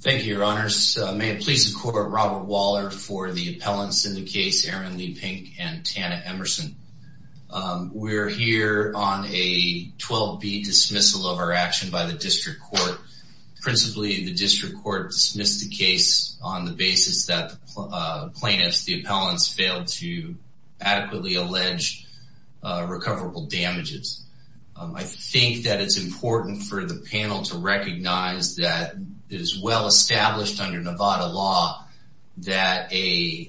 Thank you, Your Honors. May it please the Court, Robert Waller for the appellants in the case, Erin Leigh-Pink and Tana Emerson. We're here on a 12-beat dismissal of our action by the District Court. Principally, the District Court dismissed the case on the basis that plaintiffs, the appellants, failed to adequately allege recoverable damages. I think that it's important for the panel to recognize that it is well established under Nevada law that a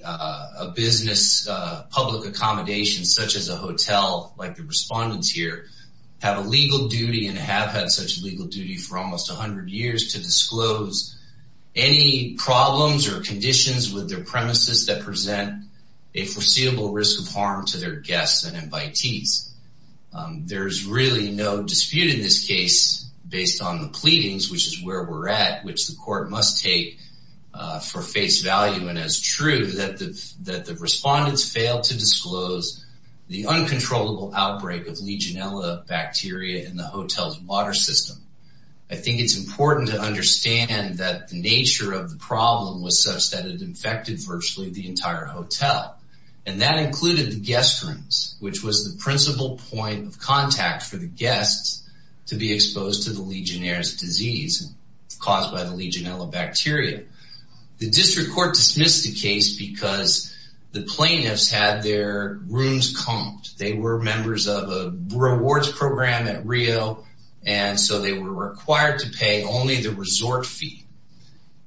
business public accommodation such as a hotel, like the respondents here, have a legal duty and have had such legal duty for almost a hundred years to disclose any problems or conditions with their premises that present a foreseeable risk of harm to their guests and invitees. There's really no dispute in this case based on the pleadings, which is where we're at, which the court must take for face value and as true, that the respondents failed to disclose the uncontrollable outbreak of Legionella bacteria in the hotel's water system. I think it's important to understand that the nature of the problem was such that it infected virtually the entire hotel, and that included the guest rooms, which was the disease caused by the Legionella bacteria. The District Court dismissed the case because the plaintiffs had their rooms comped. They were members of a rewards program at Rio, and so they were required to pay only the resort fee.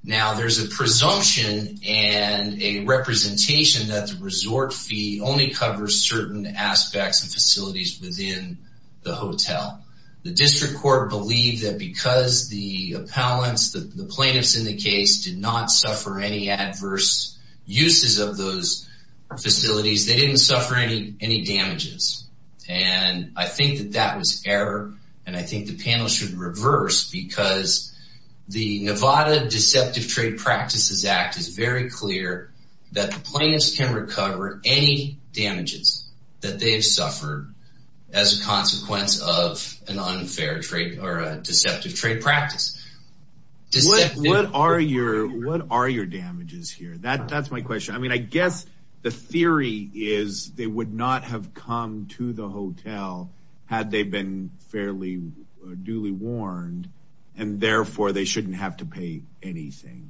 Now, there's a presumption and a representation that the resort fee only covers certain aspects and facilities within the hotel. The District Court believed that because the appellants, the plaintiffs in the case, did not suffer any adverse uses of those facilities, they didn't suffer any damages. And I think that that was error, and I think the panel should reverse because the Nevada Deceptive Trade Practices Act is very clear that the plaintiffs can recover any damages that they've suffered as a consequence of an deceptive trade practice. What are your damages here? That's my question. I mean, I guess the theory is they would not have come to the hotel had they been fairly duly warned, and therefore they shouldn't have to pay anything,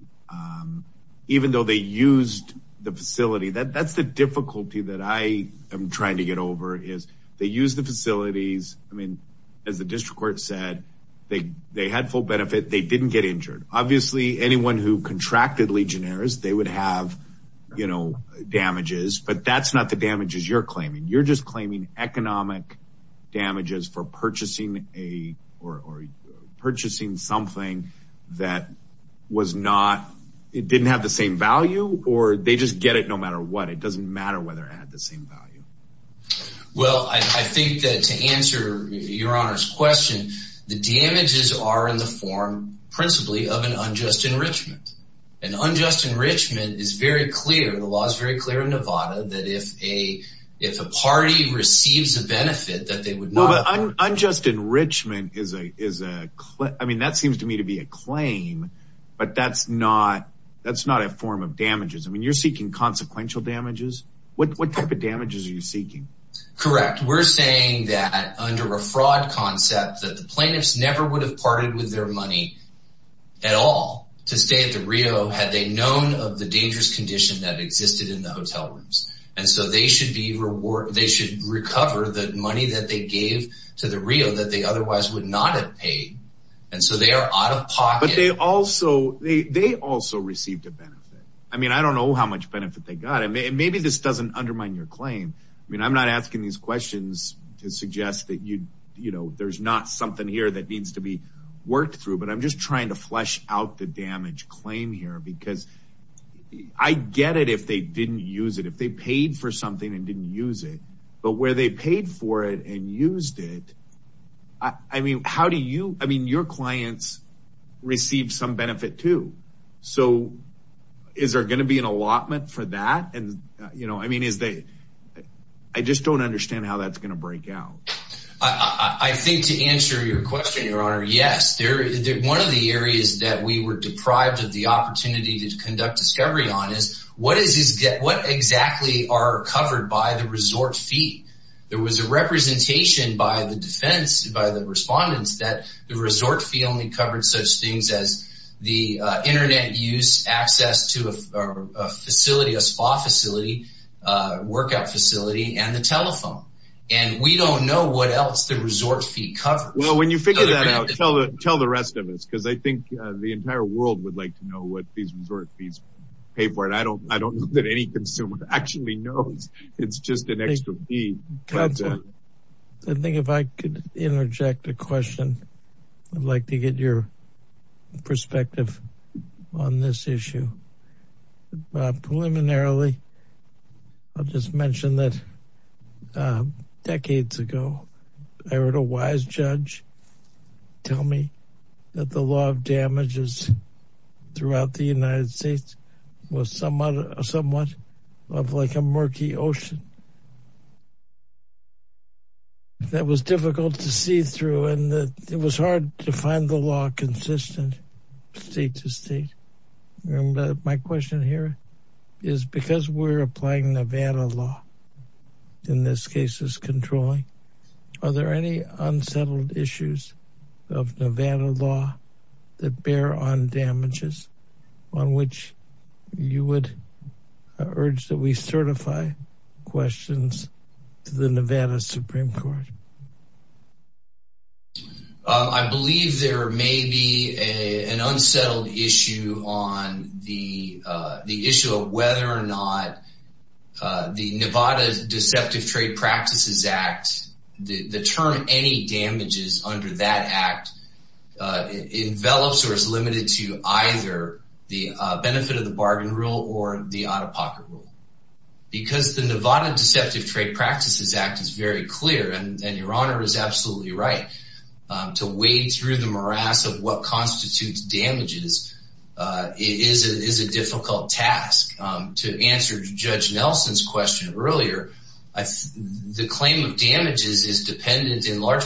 even though they used the facility. That's the difficulty that I am trying to get over, is they used the facility. They had full benefit. They didn't get injured. Obviously, anyone who contracted Legionnaires, they would have, you know, damages, but that's not the damages you're claiming. You're just claiming economic damages for purchasing a or purchasing something that was not, it didn't have the same value, or they just get it no matter what. It doesn't matter whether it had the same value. Well, I think that to answer your honor's question, the damages are in the form principally of an unjust enrichment. An unjust enrichment is very clear. The law is very clear in Nevada that if a if a party receives a benefit that they would not unjust enrichment is a is a I mean, that seems to me to be a claim, but that's not that's not a form of damages are you seeking? Correct. We're saying that under a fraud concept that the plaintiffs never would have parted with their money at all to stay at the Rio had they known of the dangerous condition that existed in the hotel rooms. And so they should be reward. They should recover the money that they gave to the Rio that they otherwise would not have paid. And so they are out of pocket. They also they they also received a benefit. I mean, I don't know how much benefit they got. Maybe this doesn't undermine your claim. I mean, I'm not asking these questions to suggest that you, you know, there's not something here that needs to be worked through. But I'm just trying to flesh out the damage claim here because I get it if they didn't use it, if they paid for something and didn't use it, but where they paid for it and used it. I mean, how do you I mean, your clients received some benefit, too. So is there going to be an allotment for that? And, you know, I mean, is they I just don't understand how that's going to break out. I think to answer your question, your honor. Yes, there is one of the areas that we were deprived of the opportunity to conduct discovery on is what is is what exactly are covered by the resort fee? There was a representation by the defense by the respondents that the resort fee only covered such things as the Internet use access to a facility, a spa facility, workout facility, and the telephone. And we don't know what else the resort fee covers. Well, when you figure that out, tell the rest of us because I think the entire world would like to know what these resort fees pay for it. I don't I don't know that any consumer actually knows. It's just an extra fee. I think if I could interject a question, I'd like to get your perspective on this issue. Preliminarily, I'll just mention that decades ago, I heard a wise judge tell me that the law of damages throughout the United States was somewhat somewhat of like a murky ocean. That was difficult to see through and it was hard to find the law consistent state to state. And my question here is because we're applying Nevada law in this case is controlling. Are there any unsettled issues of Nevada law that bear on damages on which you would urge that we certify questions to the Nevada Supreme Court? I believe there may be a an unsettled issue on the issue of whether or not the term any damages under that act envelops or is limited to either the benefit of the bargain rule or the out-of-pocket rule. Because the Nevada Deceptive Trade Practices Act is very clear, and your honor is absolutely right, to wade through the morass of what constitutes damages is a difficult task. To answer Judge in large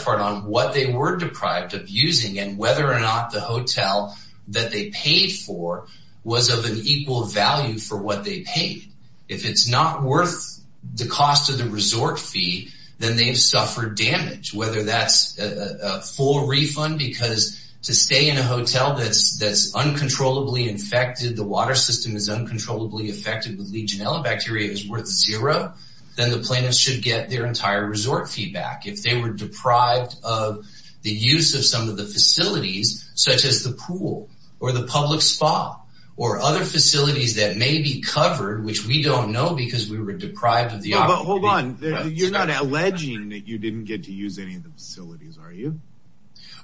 part on what they were deprived of using and whether or not the hotel that they paid for was of an equal value for what they paid. If it's not worth the cost of the resort fee, then they've suffered damage, whether that's a full refund because to stay in a hotel that's uncontrollably infected, the water system is uncontrollably affected with Legionella bacteria is worth zero, then the deprived of the use of some of the facilities such as the pool or the public spa or other facilities that may be covered, which we don't know because we were deprived of the. But hold on, you're not alleging that you didn't get to use any of the facilities, are you?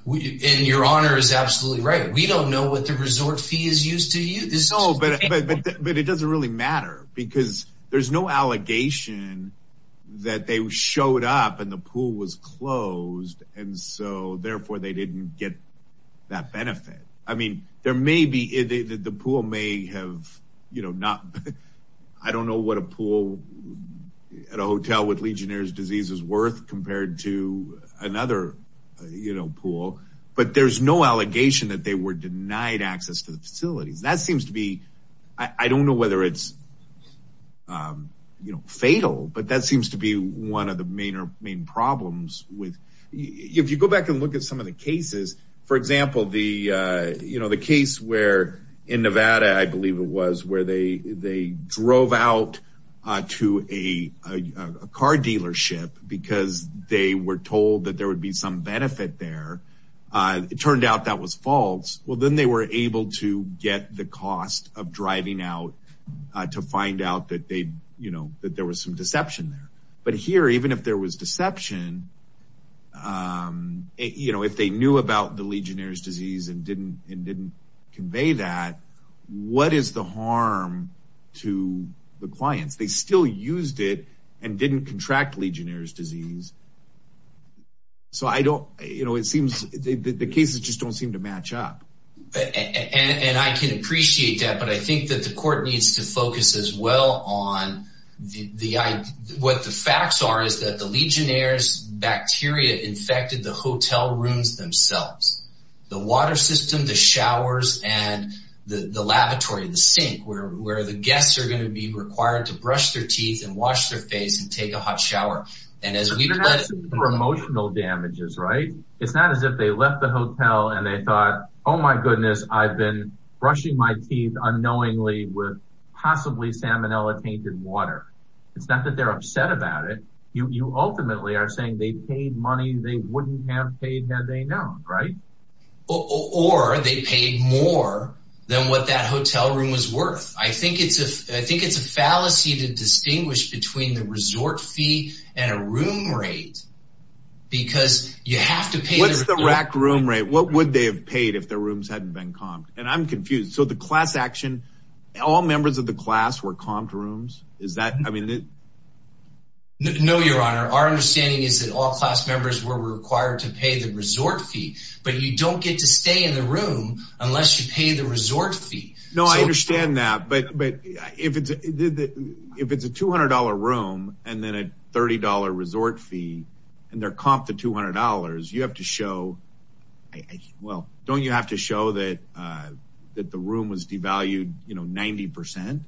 And your honor is absolutely right. We don't know what the resort fee is used to you. No, but it doesn't really matter because there's no allegation that they showed up and the pool was closed and so therefore they didn't get that benefit. I mean, there may be the pool may have, you know, not I don't know what a pool at a hotel with Legionnaires disease is worth compared to another, you know, pool. But there's no allegation that they were denied access to the facilities. That seems to be I don't know whether it's fatal, but that seems to be one of the main problems with if you go back and look at some of the cases, for example, the you know, the case where in Nevada, I believe it was where they they drove out to a car dealership because they were told that there would be some benefit there. It turned out that was false. Well, then they were able to get the cost of driving out to find out that they, you know, that there was some deception there. But here, even if there was deception, you know, if they knew about the Legionnaires disease and didn't and didn't convey that, what is the harm to the clients? They still used it and didn't contract Legionnaires disease. So I don't you know, it seems the cases just don't seem to match up and I can facts are is that the Legionnaires bacteria infected the hotel rooms themselves, the water system, the showers and the lavatory, the sink where where the guests are going to be required to brush their teeth and wash their face and take a hot shower. And as we know, that's for emotional damages, right? It's not as if they left the hotel and they thought, oh, my goodness, I've been brushing my teeth unknowingly with possibly salmonella tainted water. It's not that they're upset about it. You ultimately are saying they paid money they wouldn't have paid had they known. Right. Or they paid more than what that hotel room was worth. I think it's a I think it's a fallacy to distinguish between the resort fee and a room rate because you have to pay. What's the rack room rate? What would they have paid if their rooms hadn't been comped? And I'm confused. So the class action, all members of the class were comped rooms. Is that I mean. No, your honor, our understanding is that all class members were required to pay the resort fee, but you don't get to stay in the room unless you pay the resort fee. No, I understand that. But but if it's if it's a two hundred dollar room and then a thirty dollar resort fee and they're comped to two hundred dollars, you have to show well, don't you have to show that that the room was devalued, you know, 90 percent?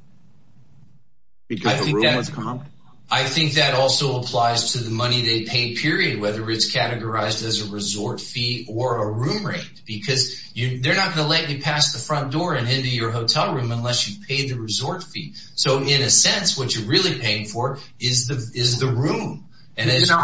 Because I think that I think that also applies to the money they pay, period, whether it's categorized as a resort fee or a room rate, because they're not going to let you pass the front door and into your hotel room unless you pay the resort fee. So in a sense, what you're really paying for is the is the room. And as you know,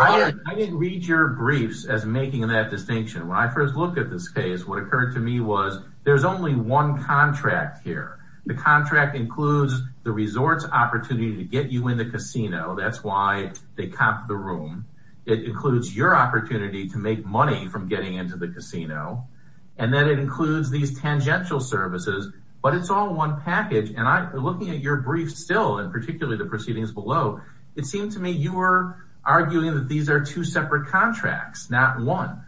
I didn't read your briefs as making that distinction. When I first looked at this case, what occurred to me was there's only one contract here. The contract includes the resort's opportunity to get you in the casino. That's why they copped the room. It includes your opportunity to make money from getting into the casino. And then it includes these tangential services. But it's all one package. And I'm looking at your brief still and particularly the proceedings below. It seemed to me you were arguing that these are two separate contracts, not one.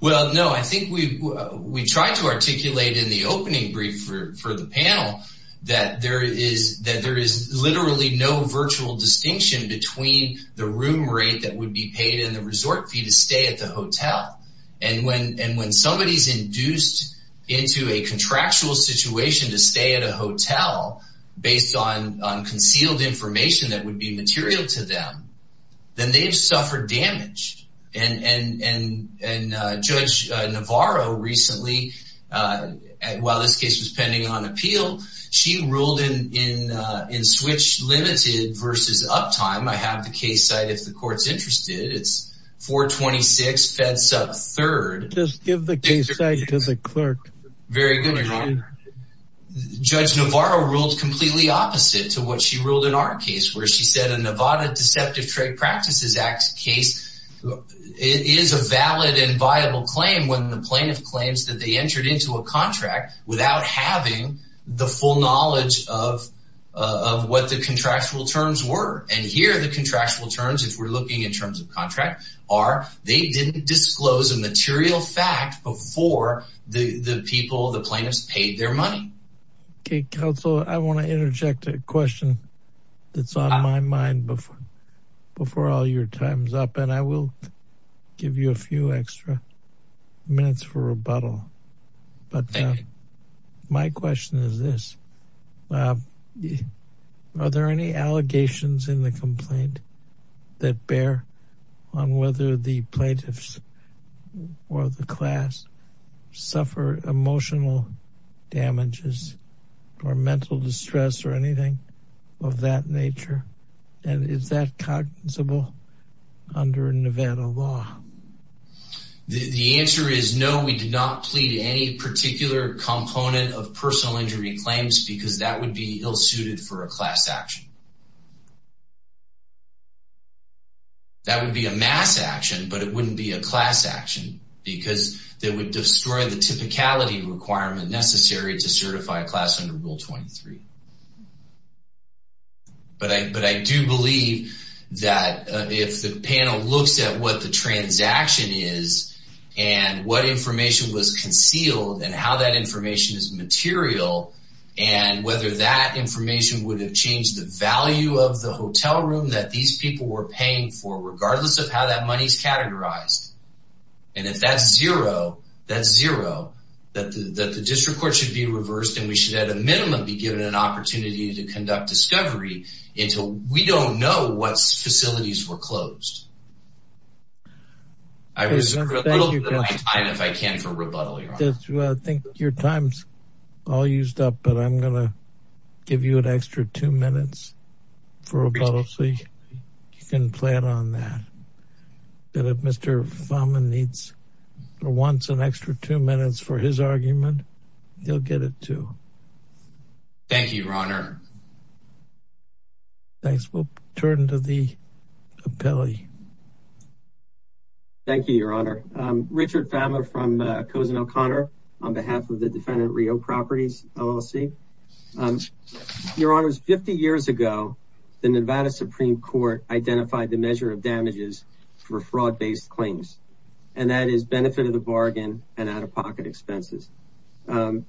Well, no, I think we we tried to articulate in the opening brief for the panel that there is that there is literally no virtual distinction between the room rate that would be paid in the resort fee to stay at the hotel. And when and when somebody is induced into a contractual situation to stay at a hotel based on concealed information that would be material to them, then they've suffered damage. And and and Judge Navarro recently, while this case was pending on appeal, she ruled in in in switch limited versus uptime. I have the case site if the court's interested. It's four twenty six feds up third. Just give the case to the clerk. Very good. Judge Navarro ruled completely opposite to what she ruled in our case where she said a Nevada Deceptive Trade Practices Act case is a valid and viable claim when the plaintiff claims that they entered into a contract without having the full knowledge of of what the contractual terms were. And here the contractual terms, if we're looking in terms of contract, are they didn't disclose a material fact before the people, the plaintiffs paid their money. OK, counsel, I want to interject a question that's on my mind before before all your time's up, and I will give you a few extra minutes for rebuttal. But my question is this. Are there any allegations in the complaint that bear on whether the plaintiffs or the class suffer emotional damages or mental distress or anything of that nature? And is that cognizable under Nevada law? The answer is no, we did not plead any particular component of personal injury claims because that would be ill suited for a class action. That would be a mass action, but it wouldn't be a class action because they would destroy the typicality requirement necessary to certify a class under Rule 23. But I but I do believe that if the panel looks at what the transaction is and what information was concealed and how that information is material and whether that value of the hotel room that these people were paying for, regardless of how that money's categorized. And if that's zero, that's zero, that the district court should be reversed and we should, at a minimum, be given an opportunity to conduct discovery until we don't know what facilities were closed. I was a little bit of time, if I can, for rebuttal, I think your time's all used up, but I'm going to give you an extra two minutes for rebuttal so you can plan on that. But if Mr. Fama needs or wants an extra two minutes for his argument, you'll get it, too. Thank you, Your Honor. Thanks, we'll turn to the appellee. Thank you, Your Honor. Richard Fama from Cozen O'Connor on behalf of the defendant Rio Properties LLC. Your Honor, 50 years ago, the Nevada Supreme Court identified the measure of damages for fraud-based claims, and that is benefit of the bargain and out-of-pocket expenses. Can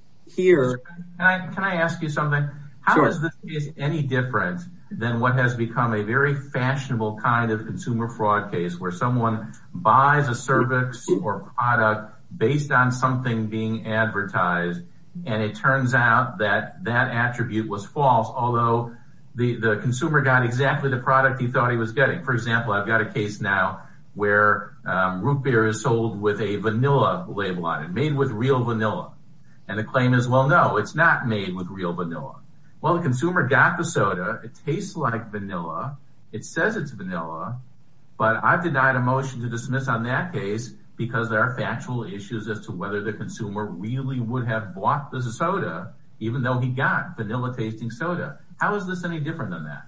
I ask you something? How is this case any different than what has become a very fashionable kind of consumer fraud case where someone buys a cervix or product based on something being advertised, and it turns out that that attribute was false, although the consumer got exactly the product he thought he was getting? For example, I've got a case now where root beer is sold with a vanilla label on it, made with real vanilla. And the claim is, well, no, it's not made with real vanilla. Well, the consumer got the soda, it tastes like vanilla, it says it's vanilla, but I've denied a motion to dismiss on that case because there are factual issues as to whether the consumer really would have bought the soda, even though he got vanilla-tasting soda. How is this any different than that?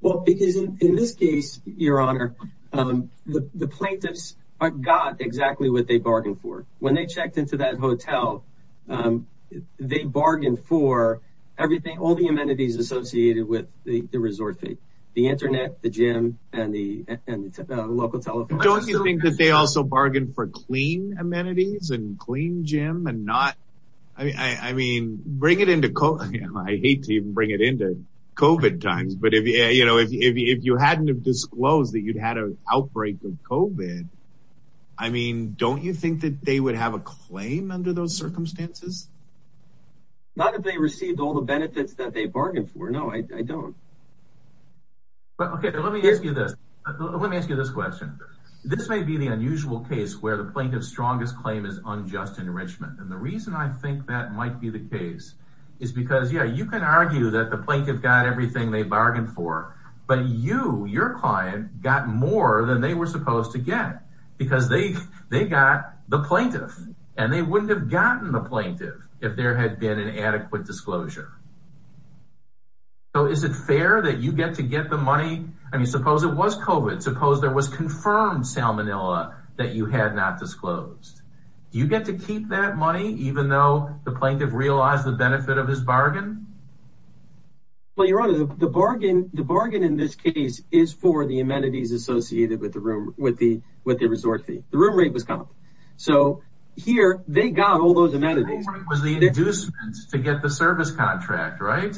Well, because in this case, Your Honor, the plaintiffs got exactly what they bargained for. When they checked into that hotel, they bargained for everything, all the amenities associated with the resort fee, the internet, the gym, and the local telephone. Don't you think that they also bargained for clean amenities and clean gym and not, I mean, bring it into COVID, I hate to even bring it into COVID times, but if you hadn't have disclosed that you'd had an outbreak of COVID, I mean, don't you think that they would have a claim under those circumstances? Not that they received all the benefits that they bargained for. No, I don't. Okay, let me ask you this. Let me ask you this question. This may be the unusual case where the plaintiff's strongest claim is unjust enrichment, and the reason I think that might be the case is because, yeah, you can argue that the plaintiff got everything they bargained for, but you, your client, got more than they were supposed to get because they got the plaintiff, and they wouldn't have gotten the plaintiff if there had been an adequate disclosure. So is it fair that you get to get the money? I mean, suppose it was COVID. Suppose there was confirmed salmonella that you had not disclosed. Do you get to keep that money, even though the plaintiff realized the benefit of his bargain? Well, Your Honor, the bargain, the bargain in this case is for the amenities associated with the room, with the with the resort fee. The room rate was cut off. So here, they got all those amenities. It was the inducement to get the service contract, right?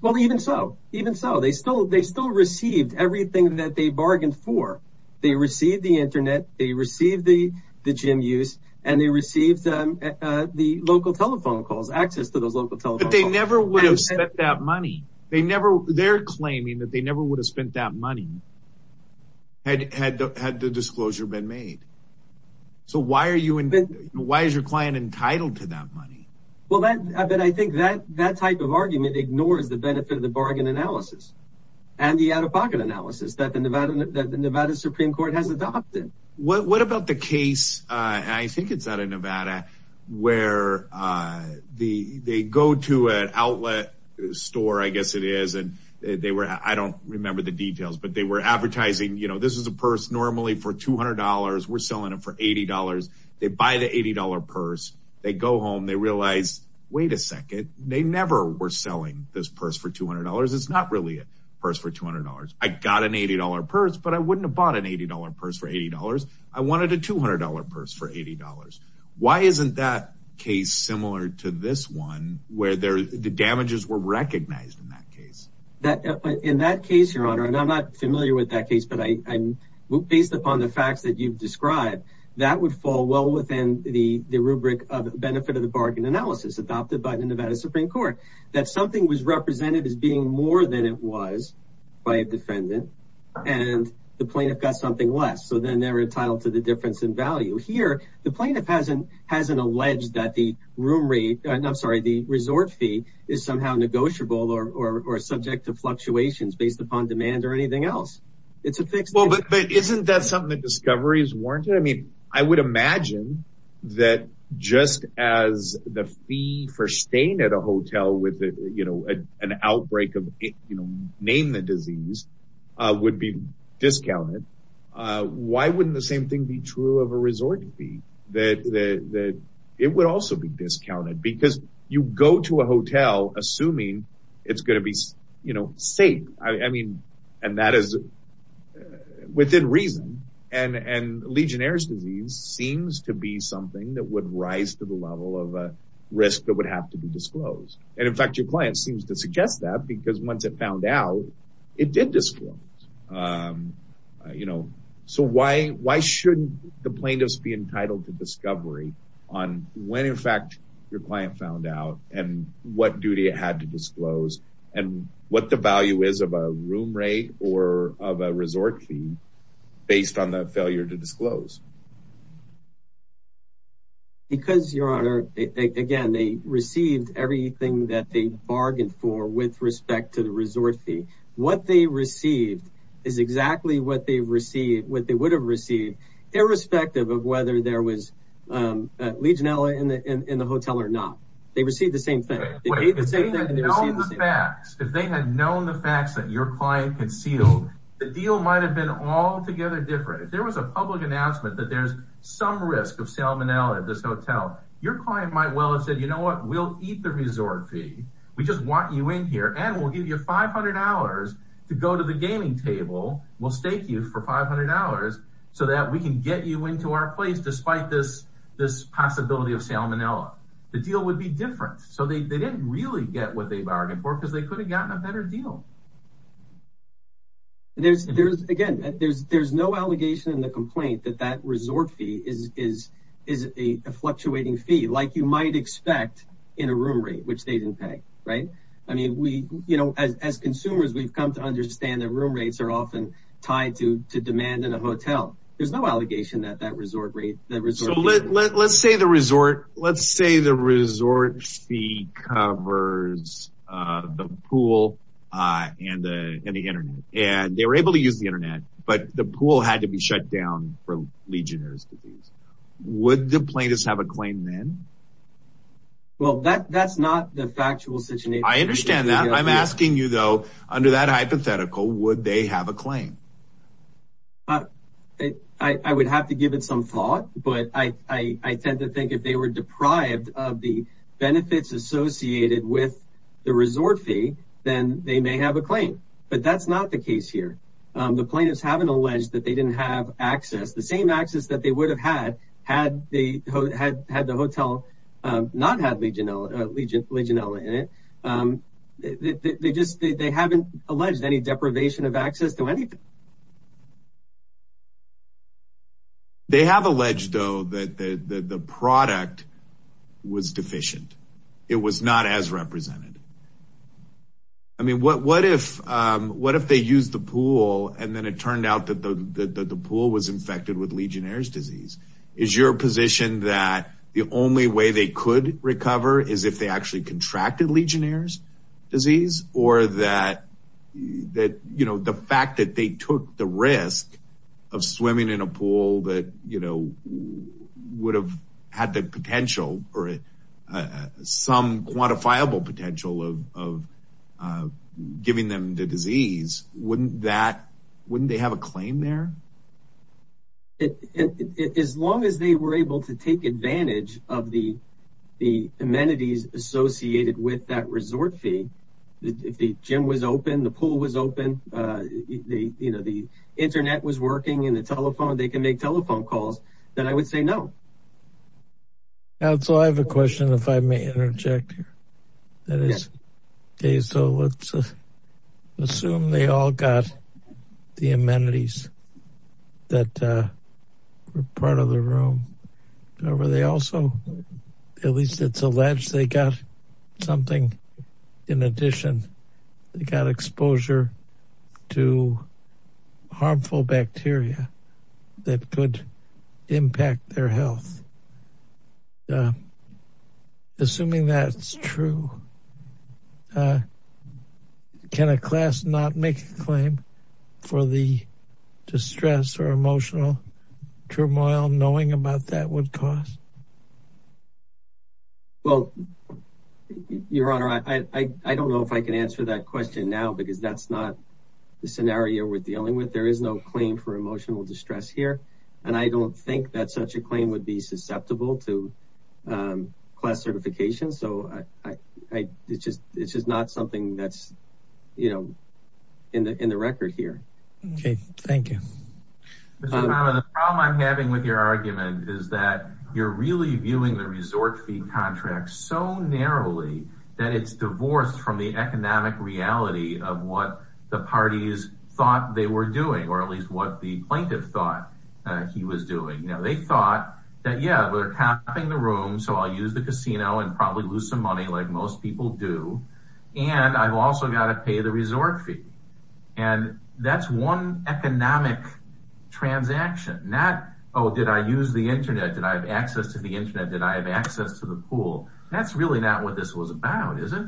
Well, even so, even so, they still, they still received everything that they bargained for. They received the internet, they received the gym use, and they received the local telephone calls, access to those local telephone calls. But they never would have spent that money. They never, they're claiming that they never would have spent that money. Well, then I bet I think that that type of argument ignores the benefit of the bargain analysis, and the out of pocket analysis that the Nevada that the Nevada Supreme Court has adopted. What about the case? I think it's out of Nevada, where the they go to an outlet store, I guess it is, and they were I don't remember the details, but they were advertising, you know, this is a purse normally for $200. We're selling it for $80. They buy the $80 purse, they go home, they realize, wait a second, they never were selling this purse for $200. It's not really a purse for $200. I got an $80 purse, but I wouldn't have bought an $80 purse for $80. I wanted a $200 purse for $80. Why isn't that case similar to this one, where the damages were recognized in that case? That in that case, Your Honor, and I'm not familiar with that case, but I'm based upon the facts that you've described, that would fall well within the the rubric of benefit of the bargain analysis adopted by the Nevada Supreme Court, that something was represented as being more than it was by a defendant, and the plaintiff got something less. So then they're entitled to the difference in value here, the plaintiff hasn't hasn't alleged that the room rate, I'm sorry, the resort fee is somehow negotiable or subject to fluctuations based upon demand or anything else. It's a fixed. Well, but isn't that something that discovery is warranted? I mean, I would imagine that just as the fee for staying at a hotel with, you know, an outbreak of, you know, name the disease would be discounted. Why wouldn't the same thing be true of a resort fee, that it would also be discounted because you go to a hotel assuming it's going to be, you know, safe. I mean, and that is within reason. And and Legionnaires disease seems to be something that would rise to the level of risk that would have to be disclosed. And in fact, your client seems to suggest that because once it found out, it did disclose. You the plaintiffs be entitled to discovery on when in fact, your client found out and what duty it had to disclose and what the value is of a room rate or of a resort fee based on the failure to disclose. Because your honor, again, they received everything that they bargained for with respect to the resort fee, what they received is effective of whether there was Legionella in the in the hotel or not. They received the same thing. If they had known the facts that your client concealed, the deal might have been altogether different. If there was a public announcement that there's some risk of salmonella at this hotel, your client might well have said, you know what, we'll eat the resort fee. We just want you in here and we'll give you $500 to go to the gaming table. We'll stake you for $500 so that we can get you into our place. Despite this, this possibility of salmonella, the deal would be different. So they didn't really get what they bargained for because they could have gotten a better deal. There's there's again, there's there's no allegation in the complaint that that resort fee is is is a fluctuating fee like you might expect in a room rate, which they didn't pay. Right. I mean, we, you know, as consumers, we've come to understand that room rates are often tied to to demand in a hotel. There's no allegation that that resort rate that resort, let's say the resort, let's say the resort fee covers the pool and the Internet and they were able to use the Internet, but the pool had to be shut down for Legionnaires disease. Would the plaintiffs have a claim then? Well, that that's not the factual situation. I understand that. I'm asking you, though, under that hypothetical, would they have a claim? But I would have to give it some thought. But I tend to think if they were deprived of the benefits associated with the resort fee, then they may have a claim. But that's not the case here. The plaintiffs haven't alleged that they didn't have access. The same access that they would have had had they had had the hotel not had Legionella in it. They just they haven't alleged any deprivation of access to anything. They have alleged, though, that the product was deficient. It was not as represented. I mean, what if what if they use the pool and then it Is your position that the only way they could recover is if they actually contracted Legionnaires disease or that that, you know, the fact that they took the risk of swimming in a pool that, you know, would have had the potential or some quantifiable potential of giving them the disease? Wouldn't that wouldn't they have a claim there? As long as they were able to take advantage of the the amenities associated with that resort fee, if the gym was open, the pool was open, you know, the Internet was working in the telephone, they can make telephone calls, then I would say no. So I have a question, if I may interject here, that is, okay, so let's assume they all got the amenities that were part of the room, however, they could impact their health. Assuming that's true, can a class not make a claim for the distress or emotional turmoil knowing about that would cost? Well, your honor, I don't know if I can answer that question now, because that's not the scenario we're dealing with. There is no claim for emotional distress here. And I don't think that such a claim would be susceptible to class certification. So I, I, it's just, it's just not something that's, you know, in the in the record here. Okay, thank you. But the problem I'm having with your argument is that you're really viewing the resort fee contract so narrowly, that it's divorced from the economic reality of what the parties thought they were doing, or at least what the plaintiff thought he was doing. Now, they thought that, yeah, we're copying the room. So I'll use the casino and probably lose some money like most people do. And I've also got to pay the resort fee. And that's one economic transaction, not, oh, did I use the internet? Did I have access to the internet? Did I have access to the pool? That's really not what this was about, is it?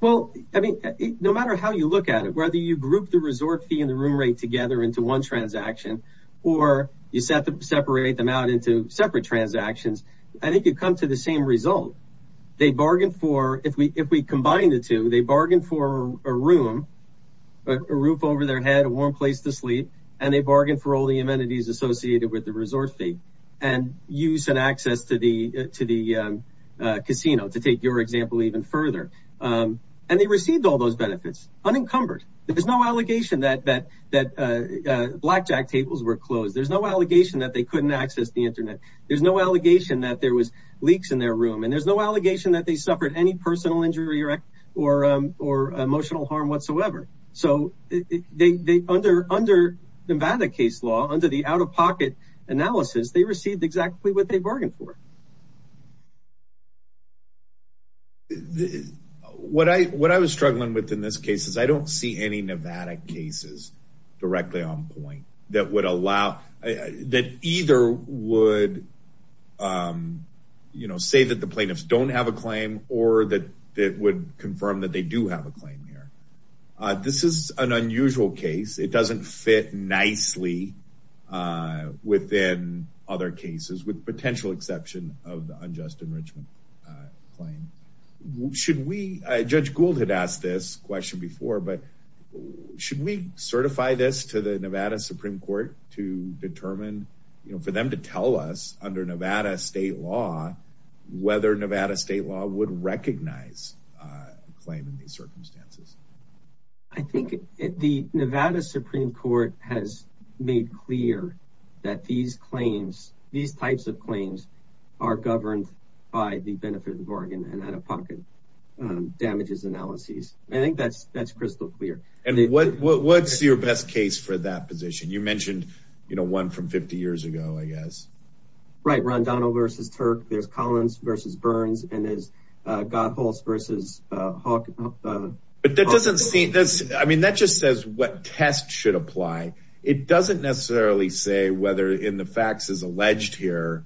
Well, I mean, no matter how you look at it, whether you group the resort fee and the room rate together into one transaction, or you separate them out into separate transactions, I think you come to the same result. They bargained for if we if we combine the two, they bargained for a room, a roof over their head, a warm place to sleep. And they bargained for all the amenities associated with the resort fee, and use and access to the to the casino to take your example even further. And they received all those benefits unencumbered. There's no allegation that that that blackjack tables were closed. There's no allegation that they couldn't access the internet. There's no allegation that there was leaks in their room. And there's no they under under Nevada case law under the out of pocket analysis, they received exactly what they bargained for. What I what I was struggling with in this case is I don't see any Nevada cases directly on point that would allow that either would, you know, say that the Nevada case is a neutral case, it doesn't fit nicely within other cases with potential exception of the unjust enrichment claim. Should we, Judge Gould had asked this question before, but should we certify this to the Nevada Supreme Court to determine, you know, for them to tell us under Nevada state law, whether Nevada state law would recognize claim in these circumstances? I think the Nevada Supreme Court has made clear that these claims, these types of claims are governed by the benefit of Oregon and out of pocket damages analyses. I think that's that's crystal clear. And what's your best case for that position? You mentioned, you know, one from 50 years ago, I guess. Right, Rondano versus Turk, there's Collins versus Burns, and there's Goethals versus Hawk. But that doesn't seem this. I mean, that just says what test should apply. It doesn't necessarily say whether in the facts is alleged here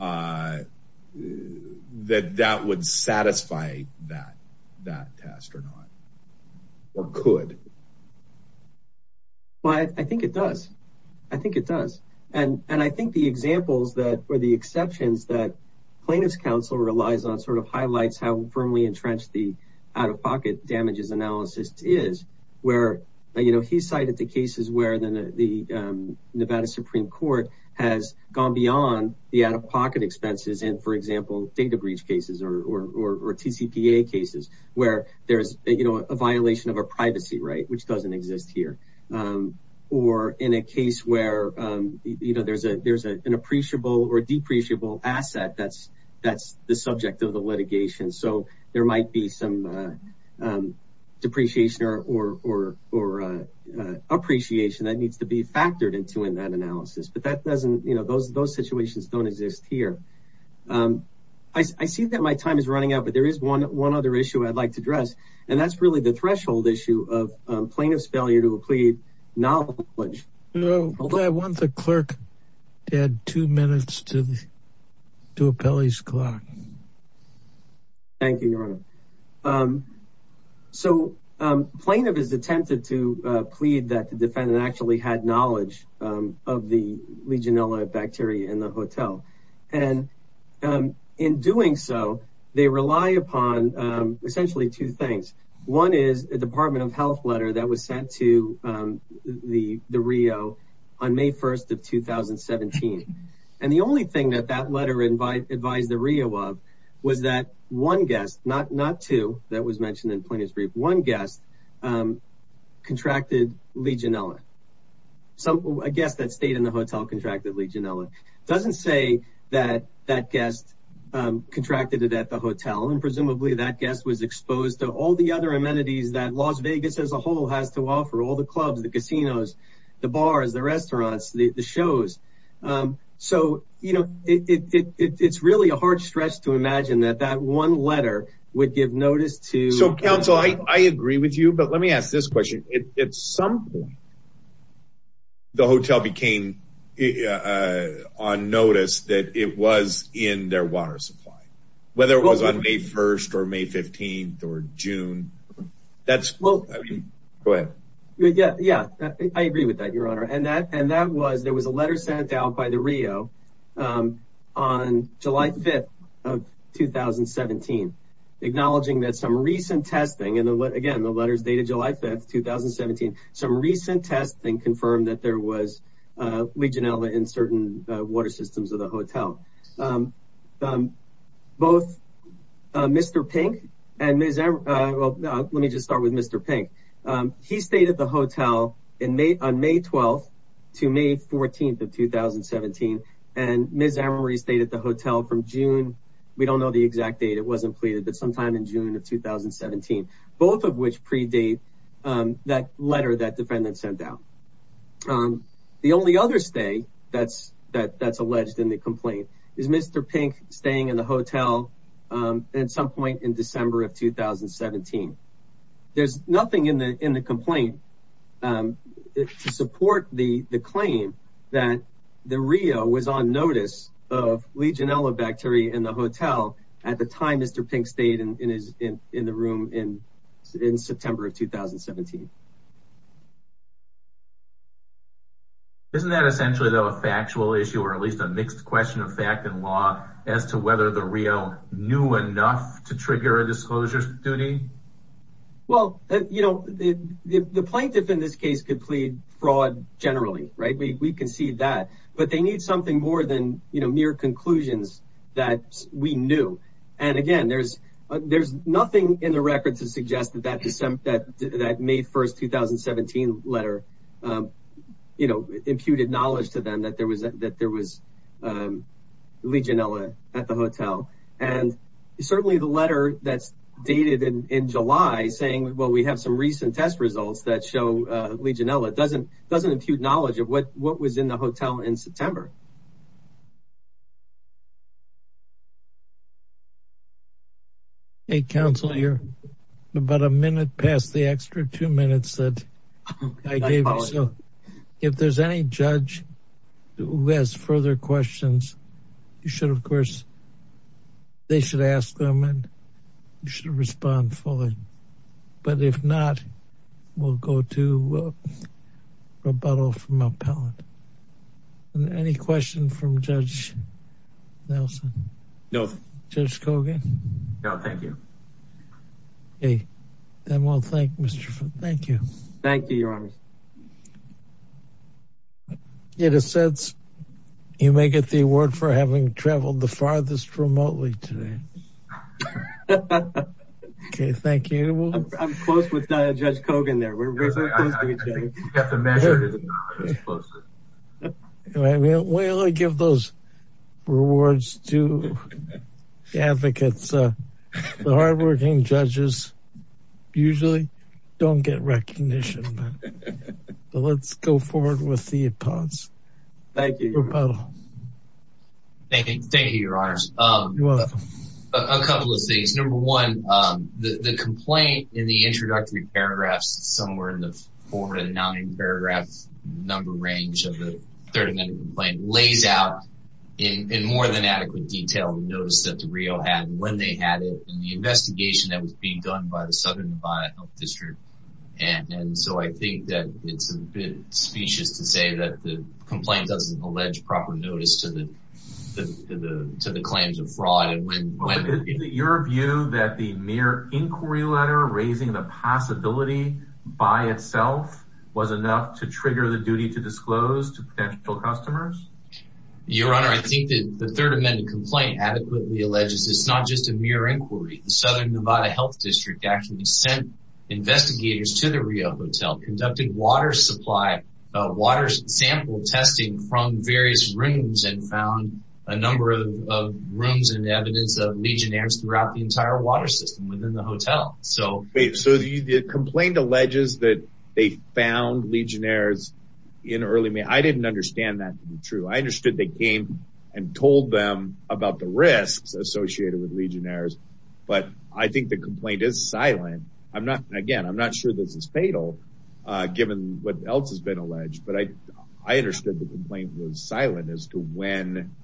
that that would satisfy that, that test or not. Or could. But I think it does. I think it does. And I think the examples that are the exceptions that plaintiff's counsel relies on sort of highlights how firmly entrenched the out of pocket damages analysis is where, you know, he cited the cases where the Nevada Supreme Court has gone beyond the out of pocket right, which doesn't exist here. Or in a case where, you know, there's a there's an appreciable or depreciable asset that's that's the subject of the litigation. So there might be some depreciation or or or appreciation that needs to be factored into in that analysis. But that doesn't you know, those those situations don't exist here. I see that my time is running out, but there is one one other issue I'd like to address. And that's really the threshold issue of plaintiff's failure to plead knowledge. I want the clerk to add two minutes to the to appellee's clock. Thank you, Your Honor. So plaintiff has attempted to plead that the defendant actually had knowledge of the Legionella bacteria in the hotel. And in doing so, they rely upon essentially two things. One is a Department of Health letter that was sent to the Rio on May 1st of 2017. And the only thing that that letter advised the Rio of was that one guest, not two that was mentioned in plaintiff's brief, one guest contracted Legionella. So I guess that stayed in the hotel contract that Legionella doesn't say that that guest contracted it at the hotel. And presumably that guest was exposed to all the other amenities that Las Vegas as a whole has to offer all the clubs, the casinos, the bars, the restaurants, the shows. So, you know, it's really a hard stretch to imagine that that one letter would give notice to. So, counsel, I agree with you, but let me ask this question. At some point, the hotel became on notice that it was in their water supply, whether it was on May 1st or May 15th or June. That's well, go ahead. And that and that was there was a letter sent out by the Rio on July 5th of 2017, acknowledging that some recent testing and again, the letters dated July 5th, 2017. Some recent testing confirmed that there was Legionella in certain water systems of the hotel. Both Mr. Pink and Ms. Well, let me just start with Mr. Pink. He stayed at the hotel in May on May 12th to May 14th of 2017. And Ms. Emery stayed at the hotel from June. We don't know the exact date. It wasn't pleaded, but sometime in June of 2017, both of which predate that letter that defendant sent out. The only other stay that's that that's alleged in the complaint is Mr. Pink staying in the hotel at some point in December of 2017. There's nothing in the in the complaint to support the claim that the Rio was on notice of Legionella bacteria in the hotel at the time Mr. Pink stayed in the room in September of 2017. Isn't that essentially, though, a factual issue or at least a mixed question of fact and law as to whether the Rio knew enough to trigger a disclosure duty? Well, you know, the plaintiff in this case could plead fraud generally, right? We can see that, but they need something more than mere conclusions that we knew. And again, there's there's nothing in the record to suggest that that that that May 1st, 2017 letter, you know, imputed knowledge to them that there was that there was Legionella at the hotel. And certainly the letter that's dated in July saying, well, we have some recent test results that show Legionella doesn't doesn't impute knowledge of what what was in the hotel in September. A councilor, you're about a minute past the extra two minutes that I gave. So if there's any judge who has further questions, you should, of course. They should ask them and you should respond fully. But if not, we'll go to rebuttal from appellate and any question from Judge Nelson? No, Judge Kogan. No, thank you. Okay, then we'll thank Mr. Thank you. Thank you, Your Honor. In a sense, you may get the award for having traveled the farthest remotely today. Okay, thank you. I'm close with Judge Kogan there. I think we have to measure it as closely. We'll give those rewards to the advocates. The hardworking judges usually don't get recognition. Let's go forward with the appellate's rebuttal. Thank you. Thank you, Your Honor. A couple of things. Number one, the complaint in the introductory paragraphs, somewhere in the four to nine paragraph number range of the third amendment complaint, lays out in more than adequate detail the notice that the Rio had, when they had it, and the investigation that was being done by the Southern Nevada Health District. And so I think that it's a bit specious to say that the complaint doesn't allege proper notice to the claims of fraud. Is it your view that the mere inquiry letter raising the possibility by itself was enough to trigger the duty to disclose to potential customers? Your Honor, I think that the third amendment complaint adequately alleges it's not just a mere inquiry. The Southern Nevada Health District actually sent investigators to the Rio hotel, conducting water supply, water sample testing from various rooms, and found a number of rooms and evidence of legionnaires throughout the entire water system within the hotel. So the complaint alleges that they found legionnaires in early May. I didn't understand that to be true. I understood they came and told them about the risks associated with legionnaires. But I think the complaint is silent. Again, I'm not sure this is fatal, given what else has been alleged. I understood the complaint was silent as to when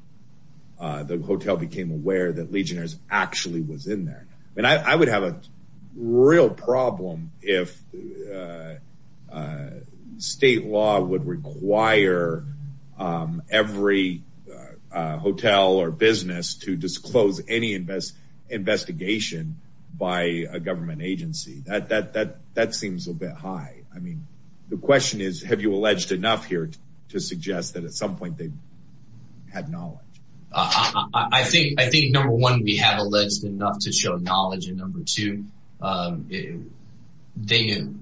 the hotel became aware that legionnaires actually was in there. And I would have a real problem if state law would require every hotel or business to disclose any investigation by a government agency. That seems a bit high. The question is, have you alleged enough here to suggest that at some point they had knowledge? I think, number one, we have alleged enough to show knowledge. And number two, I believe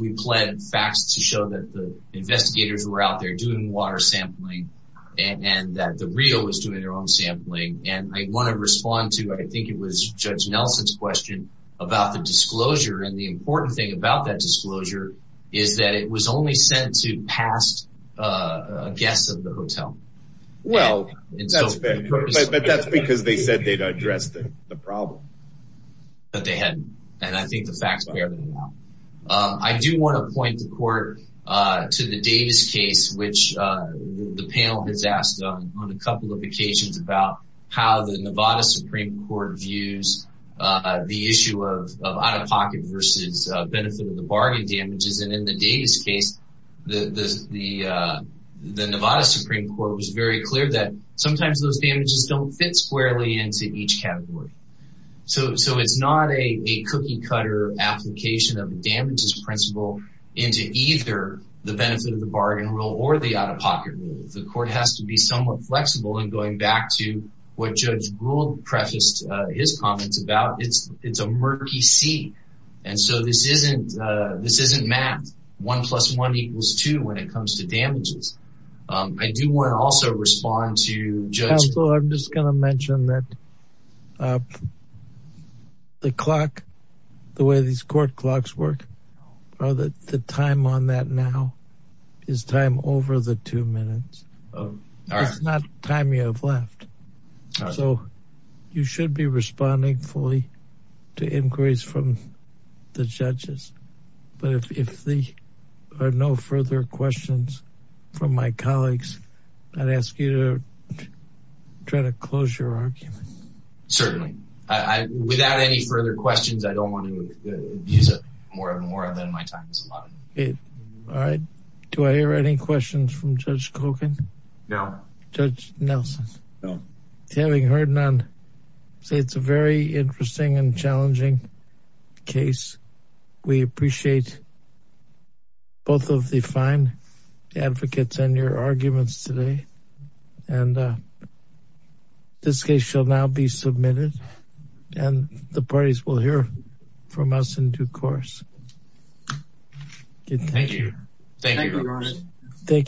we pled facts to show that the investigators were out there doing water sampling and that the Rio was doing their own sampling. And I want to respond to, I think it was Judge Nelson's question, about the disclosure. And the important thing about that disclosure is that it was only sent to past guests of the hotel. Well, but that's because they said they'd addressed the problem. But they hadn't. And I think the facts bear them out. I do want to point the court to the Davis case, which the panel has asked on a couple of occasions about how the Nevada Supreme Court views the issue of out-of-pocket versus benefit of the bargain damages. And in the Davis case, the Nevada Supreme Court was very clear that sometimes those damages don't fit squarely into each category. So it's not a cookie-cutter application of damages principle into either the benefit of the bargain rule or the out-of-pocket rule. The court has to be somewhat flexible in going back to what Judge Gould prefaced his comments about. It's a murky sea. And so this isn't math. One plus one equals two when it comes to damages. I do want to also respond to Judge- Also, I'm just going to mention that the clock, the way these court clocks work, the time on that now is time over the two minutes. It's not time you have left. So you should be responding fully to inquiries from the judges. But if there are no further questions from my colleagues, I'd ask you to try to close your argument. Certainly. Without any further questions, I don't want to use it more and more than my time is allotted. All right. Do I hear any questions from Judge Kogan? No. Judge Nelson? No. Having heard none, I'd say it's a very interesting and challenging case. We appreciate both of the fine advocates and your arguments today. And this case shall now be submitted and the parties will hear from us in due course. Thank you. Thank you. Thank you.